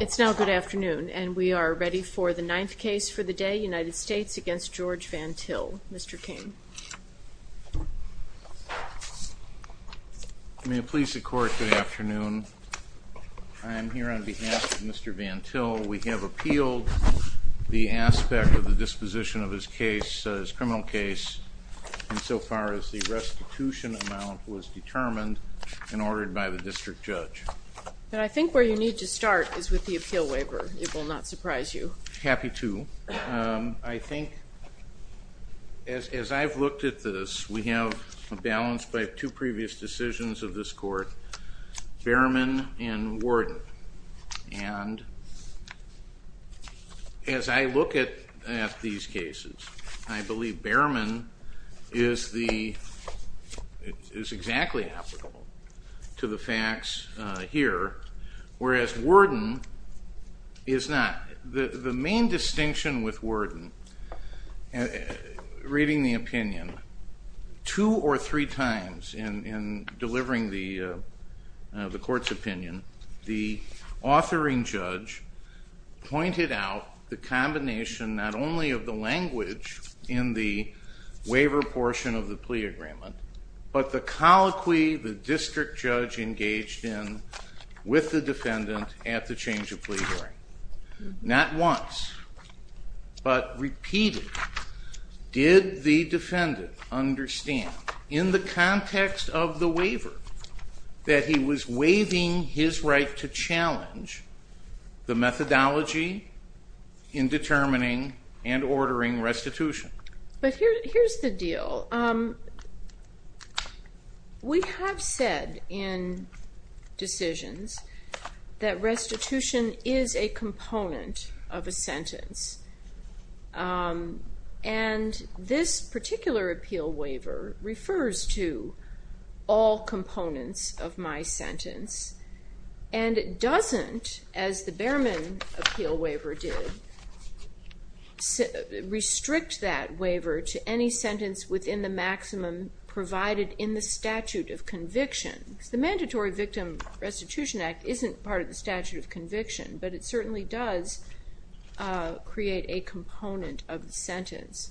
It's now good afternoon and we are ready for the ninth case for the day United States against George Van Til, Mr. King. May it please the court, good afternoon. I am here on behalf of Mr. Van Til. We have appealed the aspect of the disposition of his case, his criminal case, insofar as the restitution amount was determined and ordered by the district judge. But I need to start is with the appeal waiver. It will not surprise you. Happy to. I think as I've looked at this, we have a balance by two previous decisions of this court, Behrman and Warden. And as I look at these cases, I believe Behrman is exactly applicable to the facts here, whereas Warden is not. The main distinction with Warden, reading the opinion two or three times in delivering the court's opinion, the authoring judge pointed out the waiver portion of the plea agreement, but the colloquy the district judge engaged in with the defendant at the change of plea hearing. Not once, but repeatedly, did the defendant understand in the context of the waiver that he was waiving his right to challenge the methodology in determining and ordering restitution. But here's the deal. We have said in decisions that restitution is a component of a sentence, and this particular appeal waiver refers to all components of my sentence, and it doesn't, as the Behrman appeal waiver did, restrict that waiver to any sentence within the maximum provided in the statute of conviction. The Mandatory Victim Restitution Act isn't part of the statute of conviction, but it certainly does create a component of the sentence.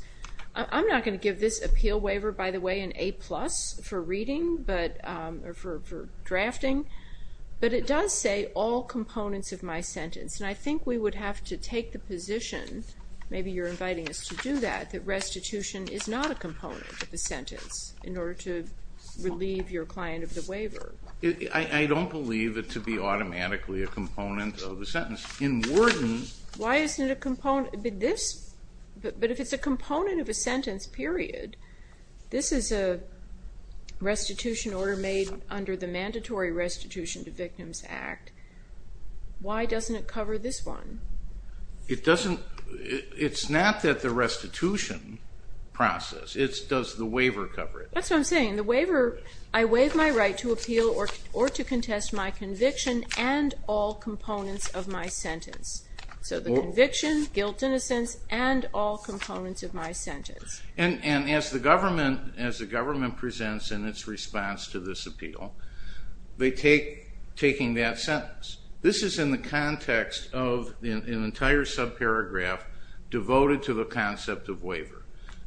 I'm not going to give this appeal waiver, by the way, an A-plus for reading or for drafting, but it does say all components of my sentence, and I think we would have to take the position, maybe you're inviting us to do that, that restitution is not a component of the sentence in order to relieve your client of the waiver. I don't believe it to be automatically a component of the sentence. In Wharton... Why isn't it a component? But if it's a component of a sentence, period, this is a restitution order made under the Mandatory Restitution to Victims Act. Why doesn't it cover this one? It doesn't. It's not that the restitution process, it's does the waiver cover it. That's what I'm saying. The waiver, I waive my right to appeal or to contest my conviction and all components of my sentence. So the conviction, guilt in a sense, and all components of my sentence. And as the government presents in its response to this appeal, they take taking that sentence. This is in the context of an entire subparagraph devoted to the concept of waiver.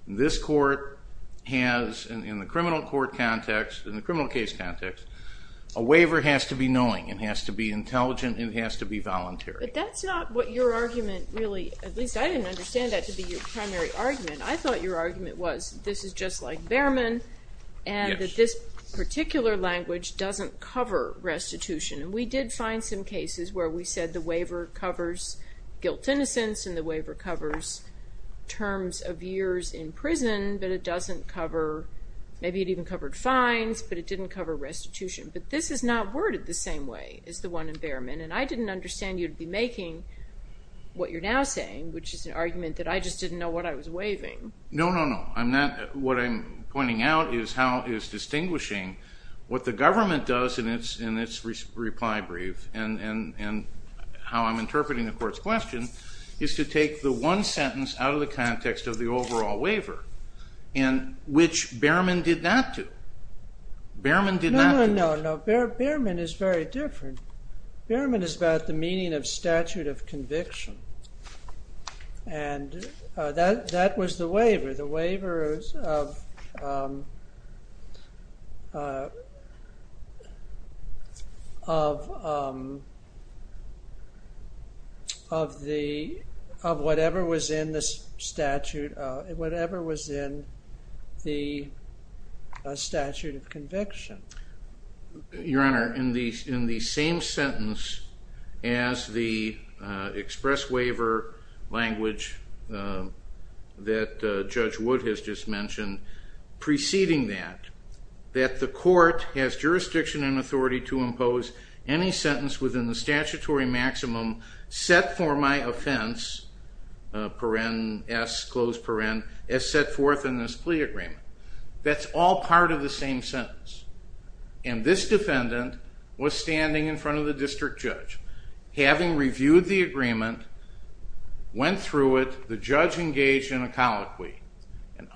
This court has, in the criminal court context, in the criminal case context, a waiver has to be knowing, it has to be intelligent, it has to be voluntary. But that's not what your argument really, at least I didn't understand that to be your primary argument. I thought your argument was this is just like Behrman and that this particular language doesn't cover restitution. And we did find some cases where we said the waiver covers guilt innocence and the waiver covers terms of years in prison, but it doesn't cover, maybe it even covered fines, but it didn't cover restitution. But this is not worded the same way as the one in Behrman and I didn't understand you'd be making what you're now saying, which is an argument that I just didn't know what I was waiving. No, no, no. I'm not, what I'm pointing out is how is distinguishing what the government does in its reply brief and how I'm interpreting the court's question, is to take the one sentence out of the context of the overall waiver and which Behrman did not do. Behrman did not. No, Behrman is very different. Behrman is about the meaning of statute of conviction and that was the waiver, the waivers of whatever was in this statute, whatever was in the statute of conviction. Your Honor, in the same sentence as the one that Judge Wood has just mentioned, preceding that, that the court has jurisdiction and authority to impose any sentence within the statutory maximum set for my offense, paren s, closed paren, as set forth in this plea agreement. That's all part of the same sentence and this defendant was standing in front of the district judge, having reviewed the agreement, went through it, the judge engaged in a colloquy.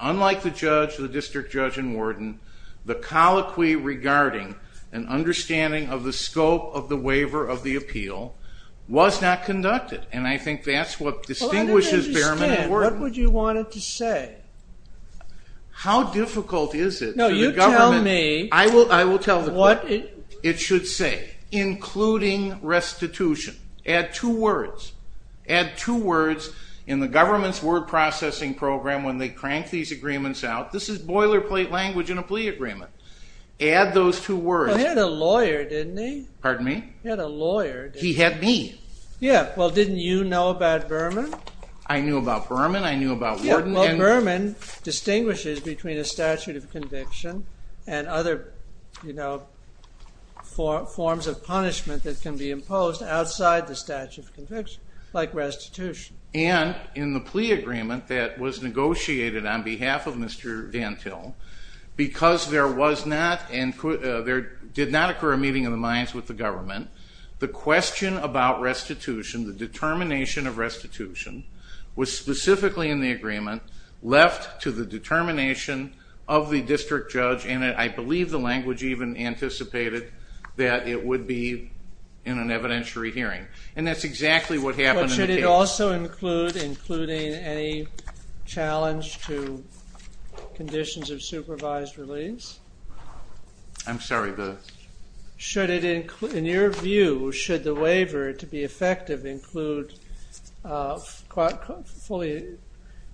Unlike the judge, the district judge and warden, the colloquy regarding an understanding of the scope of the waiver of the appeal was not conducted and I think that's what distinguishes Behrman and Warden. I don't understand. What would you want it to say? How difficult is it for the government? No, you tell me. I will tell the court. What it should say, including restitution. Add two words. In the government's word processing program, when they crank these agreements out, this is boilerplate language in a plea agreement. Add those two words. He had a lawyer, didn't he? Pardon me? He had a lawyer. He had me. Yeah, well didn't you know about Behrman? I knew about Behrman, I knew about Warden. Well, Behrman distinguishes between a statute of conviction and other, you know, forms of punishment that can be imposed outside the statute of conviction, like restitution. And in the plea agreement that was negotiated on behalf of Mr. Van Til, because there was not and there did not occur a meeting of the minds with the government, the question about restitution, the determination of restitution, was specifically in the agreement left to the determination of the district judge and I believe the language even anticipated that it would be in an evidentiary hearing. And that's exactly what happened. But should it also include, including any challenge to conditions of supervised release? I'm sorry, the... Should it include, in your view, should the waiver to be effective include, fully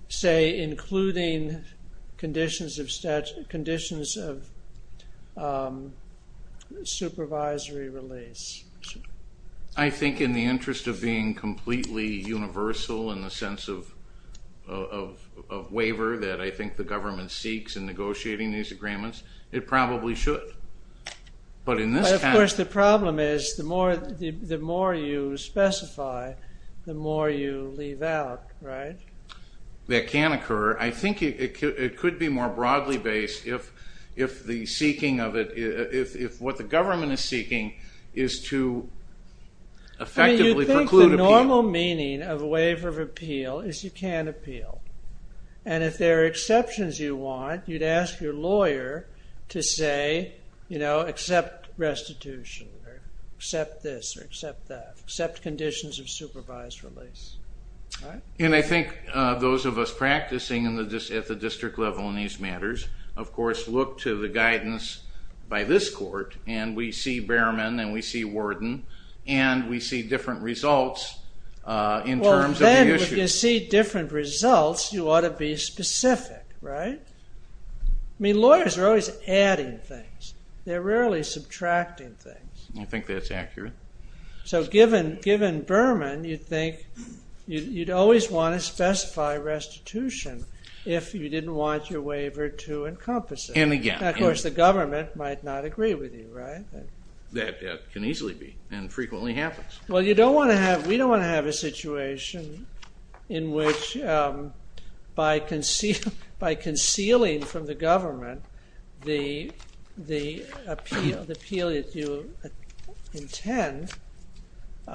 say, including conditions of statutory, conditions of supervisory release? I think in the interest of being completely universal in the sense of waiver that I think the government seeks in negotiating these agreements, it probably should. But in this case... The more you specify, the more you leave out, right? That can occur. I think it could be more broadly based if the seeking of it, if what the government is seeking is to effectively preclude appeal. You think the normal meaning of waiver of appeal is you can't appeal. And if there are exceptions you want, you'd ask your lawyer to say, you know, accept restitution, accept this or accept that, accept conditions of supervised release. And I think those of us practicing at the district level in these matters, of course, look to the guidance by this court and we see Behrman and we see Worden and we see different results in terms of the issues. If you see different results, you ought to be specific, right? I mean, lawyers are always adding things. They're rarely subtracting things. I think that's accurate. So given Behrman, you'd think, you'd always want to specify restitution if you didn't want your waiver to encompass it. And again... Of course, the government might not agree with you, right? That can easily be and frequently happens. Well, we don't want to have a situation in which by concealing from the government the appeal that you intend,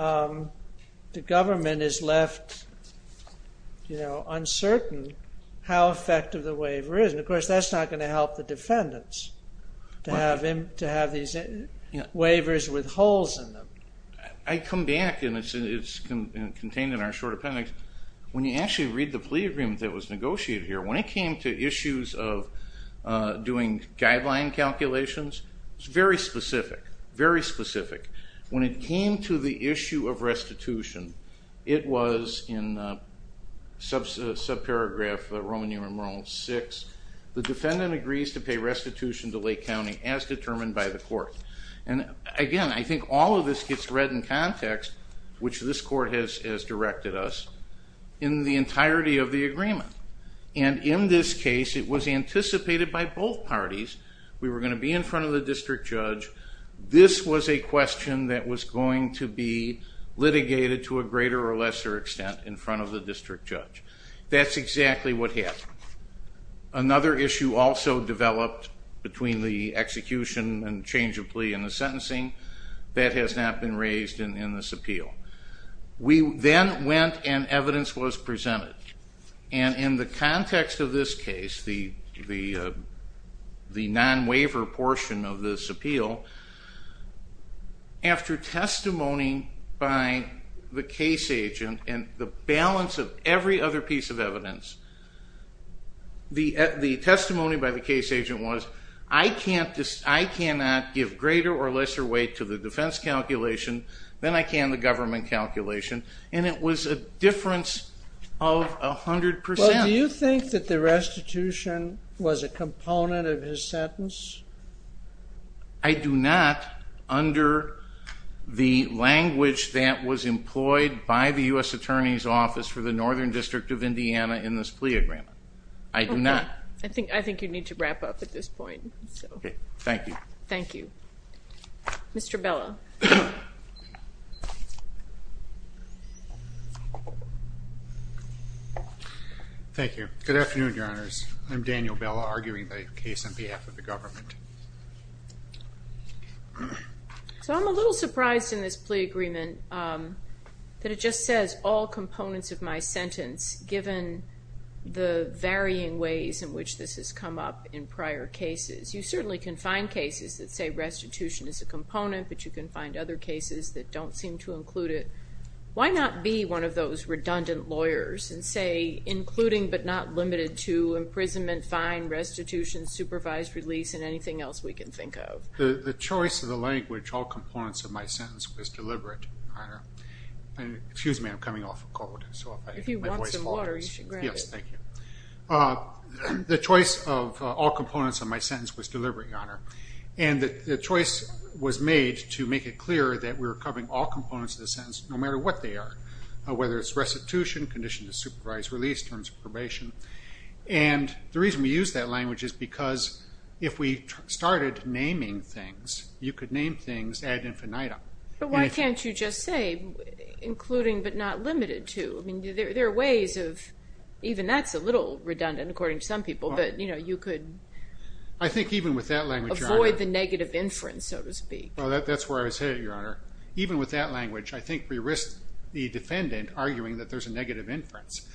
the government is left, you know, uncertain how effective the waiver is. And of course, that's not going to help the defendants to have these waivers with holes in them. I come back and it's contained in our short appendix. When you actually read the plea agreement that was negotiated here, when it came to issues of doing guideline calculations, it's very specific, very specific. When it came to the issue of restitution, it was in subparagraph Roman numeral VI, the defendant agrees to pay restitution to Lake County as determined by the court. And again, I think all of this gets read in context, which this court has directed us, in the entirety of the agreement. And in this case, it was anticipated by both parties, we were going to be in front of the district judge, this was a question that was going to be litigated to a greater or lesser extent in front of the district judge. That's exactly what happened. Another issue also developed between the execution and change of plea and the sentencing, that has not been raised in this appeal. We then went and evidence was presented. And in the context of this case, the non-waiver portion of this appeal, after testimony by the case agent, and the balance of every other piece of evidence, the testimony by the case agent was, I cannot give greater or lesser weight to the defense calculation than I can the government calculation. And it was a difference of 100%. Well, do you think that the restitution was a component of his sentence? I do not, under the language that was employed by the U.S. Attorney's Office for the Northern District of Indiana in this plea agreement. I do not. I think you need to wrap up at this point. Thank you. Thank you. Mr. Bella. Thank you. Good afternoon, Your Honors. I'm Daniel Bella, arguing the case on behalf of the government. So I'm a little surprised in this plea agreement that it just says all components of my sentence, given the varying ways in which this has come up in prior cases. You certainly can find cases that say restitution is a component, but you can find other cases that don't seem to include it. Why not be one of those redundant lawyers and say including but not limited to imprisonment, fine, restitution, supervised release, and anything else we can think of? The choice of the language, all components of my sentence, was deliberate, Your Honor. Excuse me, I'm coming off a cold. If you want some water, you should grab it. Yes, thank you. The choice of all components of my sentence was deliberate, Your Honor, and the choice was made to make it clear that we were covering all components of the sentence, no matter what they are, whether it's restitution, condition to supervise release, terms of probation. And the reason we used that language is because if we started naming things, you could name things ad infinitum. But why can't you just say including but not limited to? I mean, there are ways of... Even that's a little redundant, according to some people, but, you know, you could... I think even with that language, Your Honor... ...avoid the negative inference, so to speak. Well, that's where I was headed, Your Honor. Even with that language, I think we risk the defendant arguing that there's a negative inference,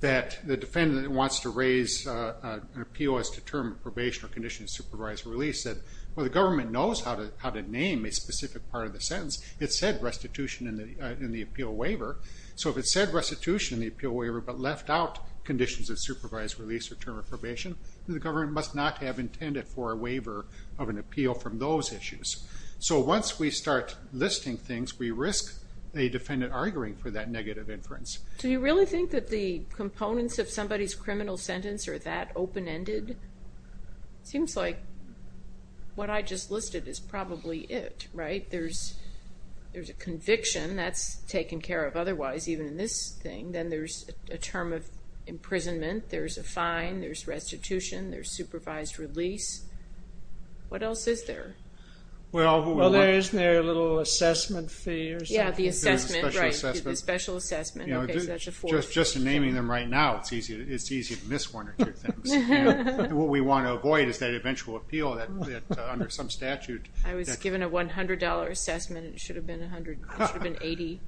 that the defendant wants to raise an appeal as to term of probation or condition to supervise release, that, well, the government knows how to name a specific part of the sentence. It said restitution in the appeal waiver. So if it said restitution in the appeal waiver but left out conditions of supervised release or term of probation, then the government must not have intended for a waiver of an appeal from those issues. So once we start listing things, we risk a defendant arguing for that negative inference. Do you really think that the components of somebody's criminal sentence are that open-ended? It seems like what I just listed is probably it, right? There's a conviction. That's taken care of otherwise, even in this thing. Then there's a term of imprisonment. There's a fine. There's restitution. There's supervised release. What else is there? Well, there is their little assessment fee or something. Yeah, the assessment, right, the special assessment. Just naming them right now, it's easy to miss one or two things. What we want to avoid is that eventual appeal that under some statute... I was given a $100 assessment. It should have been $180.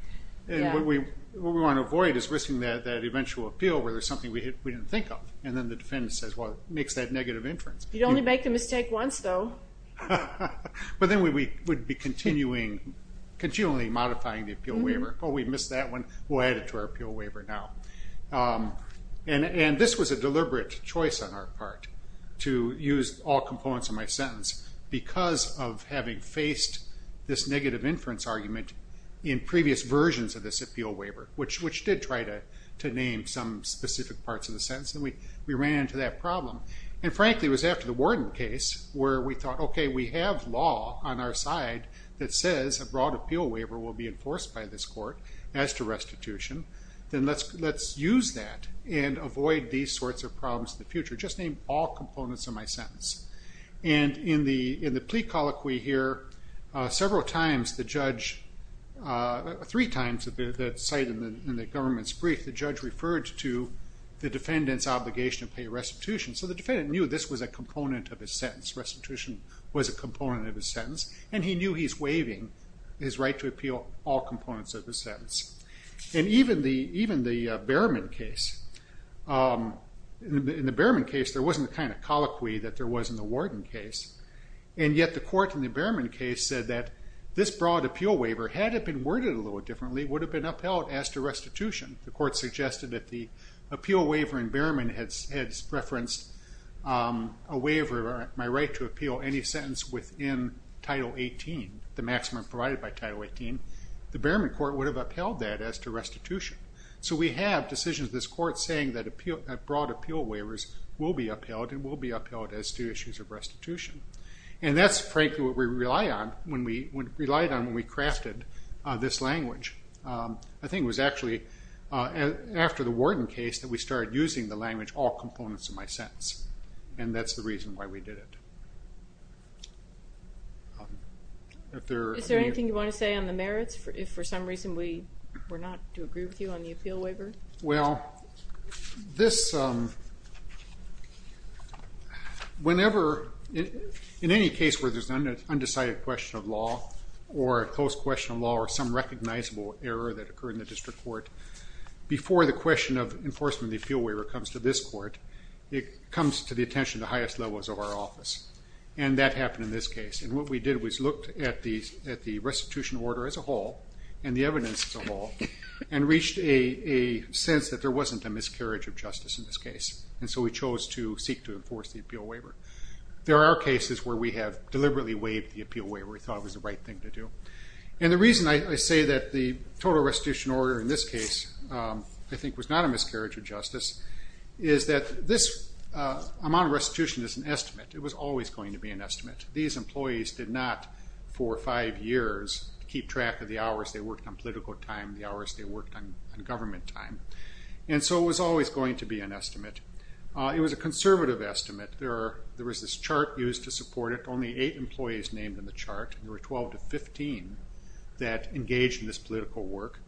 What we want to avoid is risking that eventual appeal where there's something we didn't think of, and then the defendant says, well, it makes that negative inference. You'd only make the mistake once, though. But then we would be continually modifying the appeal waiver. Oh, we missed that one. We'll add it to our appeal waiver now. This was a deliberate choice on our part to use all components of my sentence because of having faced this negative inference argument in previous versions of this appeal waiver, which did try to name some specific parts of the sentence. We ran into that problem. Frankly, it was after the Warden case where we thought, okay, we have law on our side that says a broad appeal waiver will be enforced by this court as to restitution. Then let's use that and avoid these sorts of problems in the future. Just name all components of my sentence. And in the plea colloquy here, several times the judge... three times the site in the government's brief, the judge referred to the defendant's obligation to pay restitution. So the defendant knew this was a component of his sentence. Restitution was a component of his sentence. And he knew he's waiving his right to appeal all components of the sentence. And even the Behrman case... in the Behrman case, there wasn't the kind of colloquy that there was in the Warden case. And yet the court in the Behrman case said that this broad appeal waiver, had it been worded a little differently, would have been upheld as to restitution. The court suggested that the appeal waiver in Behrman had referenced a waiver, my right to appeal any sentence within Title 18, the maximum provided by Title 18. The Behrman court would have upheld that as to restitution. So we have decisions in this court saying that broad appeal waivers will be upheld and will be upheld as to issues of restitution. And that's frankly what we relied on when we crafted this language. I think it was actually after the Warden case that we started using the language all components of my sentence. And that's the reason why we did it. Is there anything you want to say on the merits? If for some reason we were not to agree with you on the appeal waiver? Well, this... whenever... in any case where there's an undecided question of law or a close question of law or some recognizable error that occurred in the district court, before the question of enforcement of the appeal waiver comes to this court, it comes to the attention of the highest levels of our office. And that happened in this case. And what we did was looked at the restitution order as a whole and the evidence as a whole and reached a sense that there wasn't a miscarriage of justice in this case. And so we chose to seek to enforce the appeal waiver. There are cases where we have deliberately waived the appeal waiver. We thought it was the right thing to do. And the reason I say that the total restitution order in this case I think was not a miscarriage of justice is that this amount of restitution is an estimate. It was always going to be an estimate. These employees did not, for 5 years, keep track of the hours they worked on political time, the hours they worked on government time. And so it was always going to be an estimate. It was a conservative estimate. There was this chart used to support it. Only 8 employees named in the chart. There were 12 to 15 that engaged in this political work.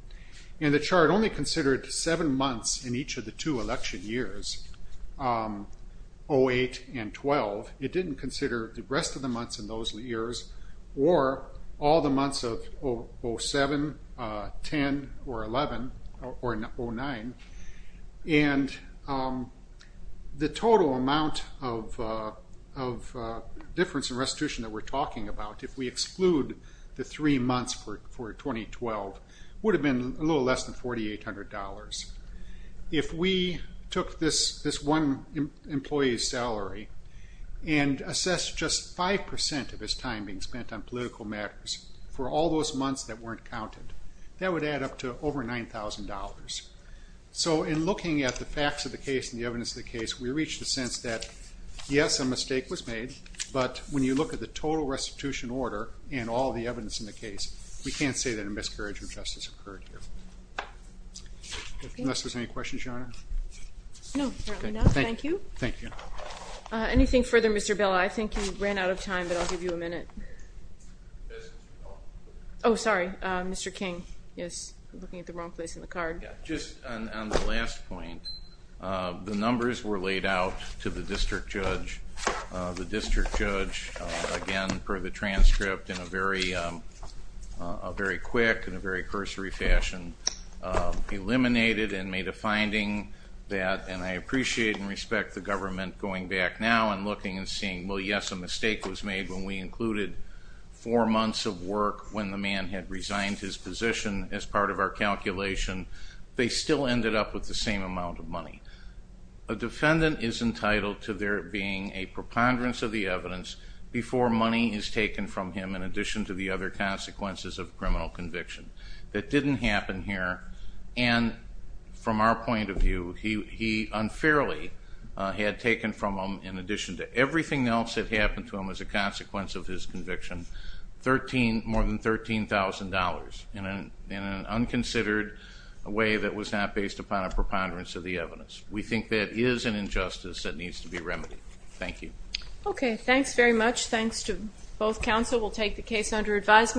And the chart only considered 7 months in each of the 2 election years, 08 and 12. It didn't consider the rest of the months in those years or all the months of 07, 10, or 11, or 09. And the total amount of difference in restitution that we're talking about, if we exclude the 3 months for 2012, would have been a little less than $4,800. If we took this one employee's salary and assessed just 5% of his time being spent on political matters for all those months that weren't counted, that would add up to over $9,000. So in looking at the facts of the case and the evidence of the case, we reach the sense that, yes, a mistake was made, but when you look at the total restitution order and all the evidence in the case, we can't say that a miscarriage of justice occurred here. Unless there's any questions, Your Honor? No, apparently not. Thank you. Thank you. Anything further, Mr. Bella? I think you ran out of time, but I'll give you a minute. Oh, sorry. Mr. King is looking at the wrong place in the card. Just on the last point, the numbers were laid out to the district judge. The district judge, again, per the transcript, in a very quick and a very cursory fashion, eliminated and made a finding that, and I appreciate and respect the government going back now and looking and seeing, well, yes, a mistake was made when we included four months of work when the man had resigned his position as part of our calculation. They still ended up with the same amount of money. A defendant is entitled to there being a preponderance of the evidence before money is taken from him in addition to the other consequences of criminal conviction. That didn't happen here. And from our point of view, he unfairly had taken from him, in addition to everything else that happened to him as a consequence of his conviction, more than $13,000 in an unconsidered way that was not based upon a preponderance of the evidence. We think that is an injustice that needs to be remedied. Thank you. Okay, thanks very much. Thanks to both counsel. We'll take the case under advisement.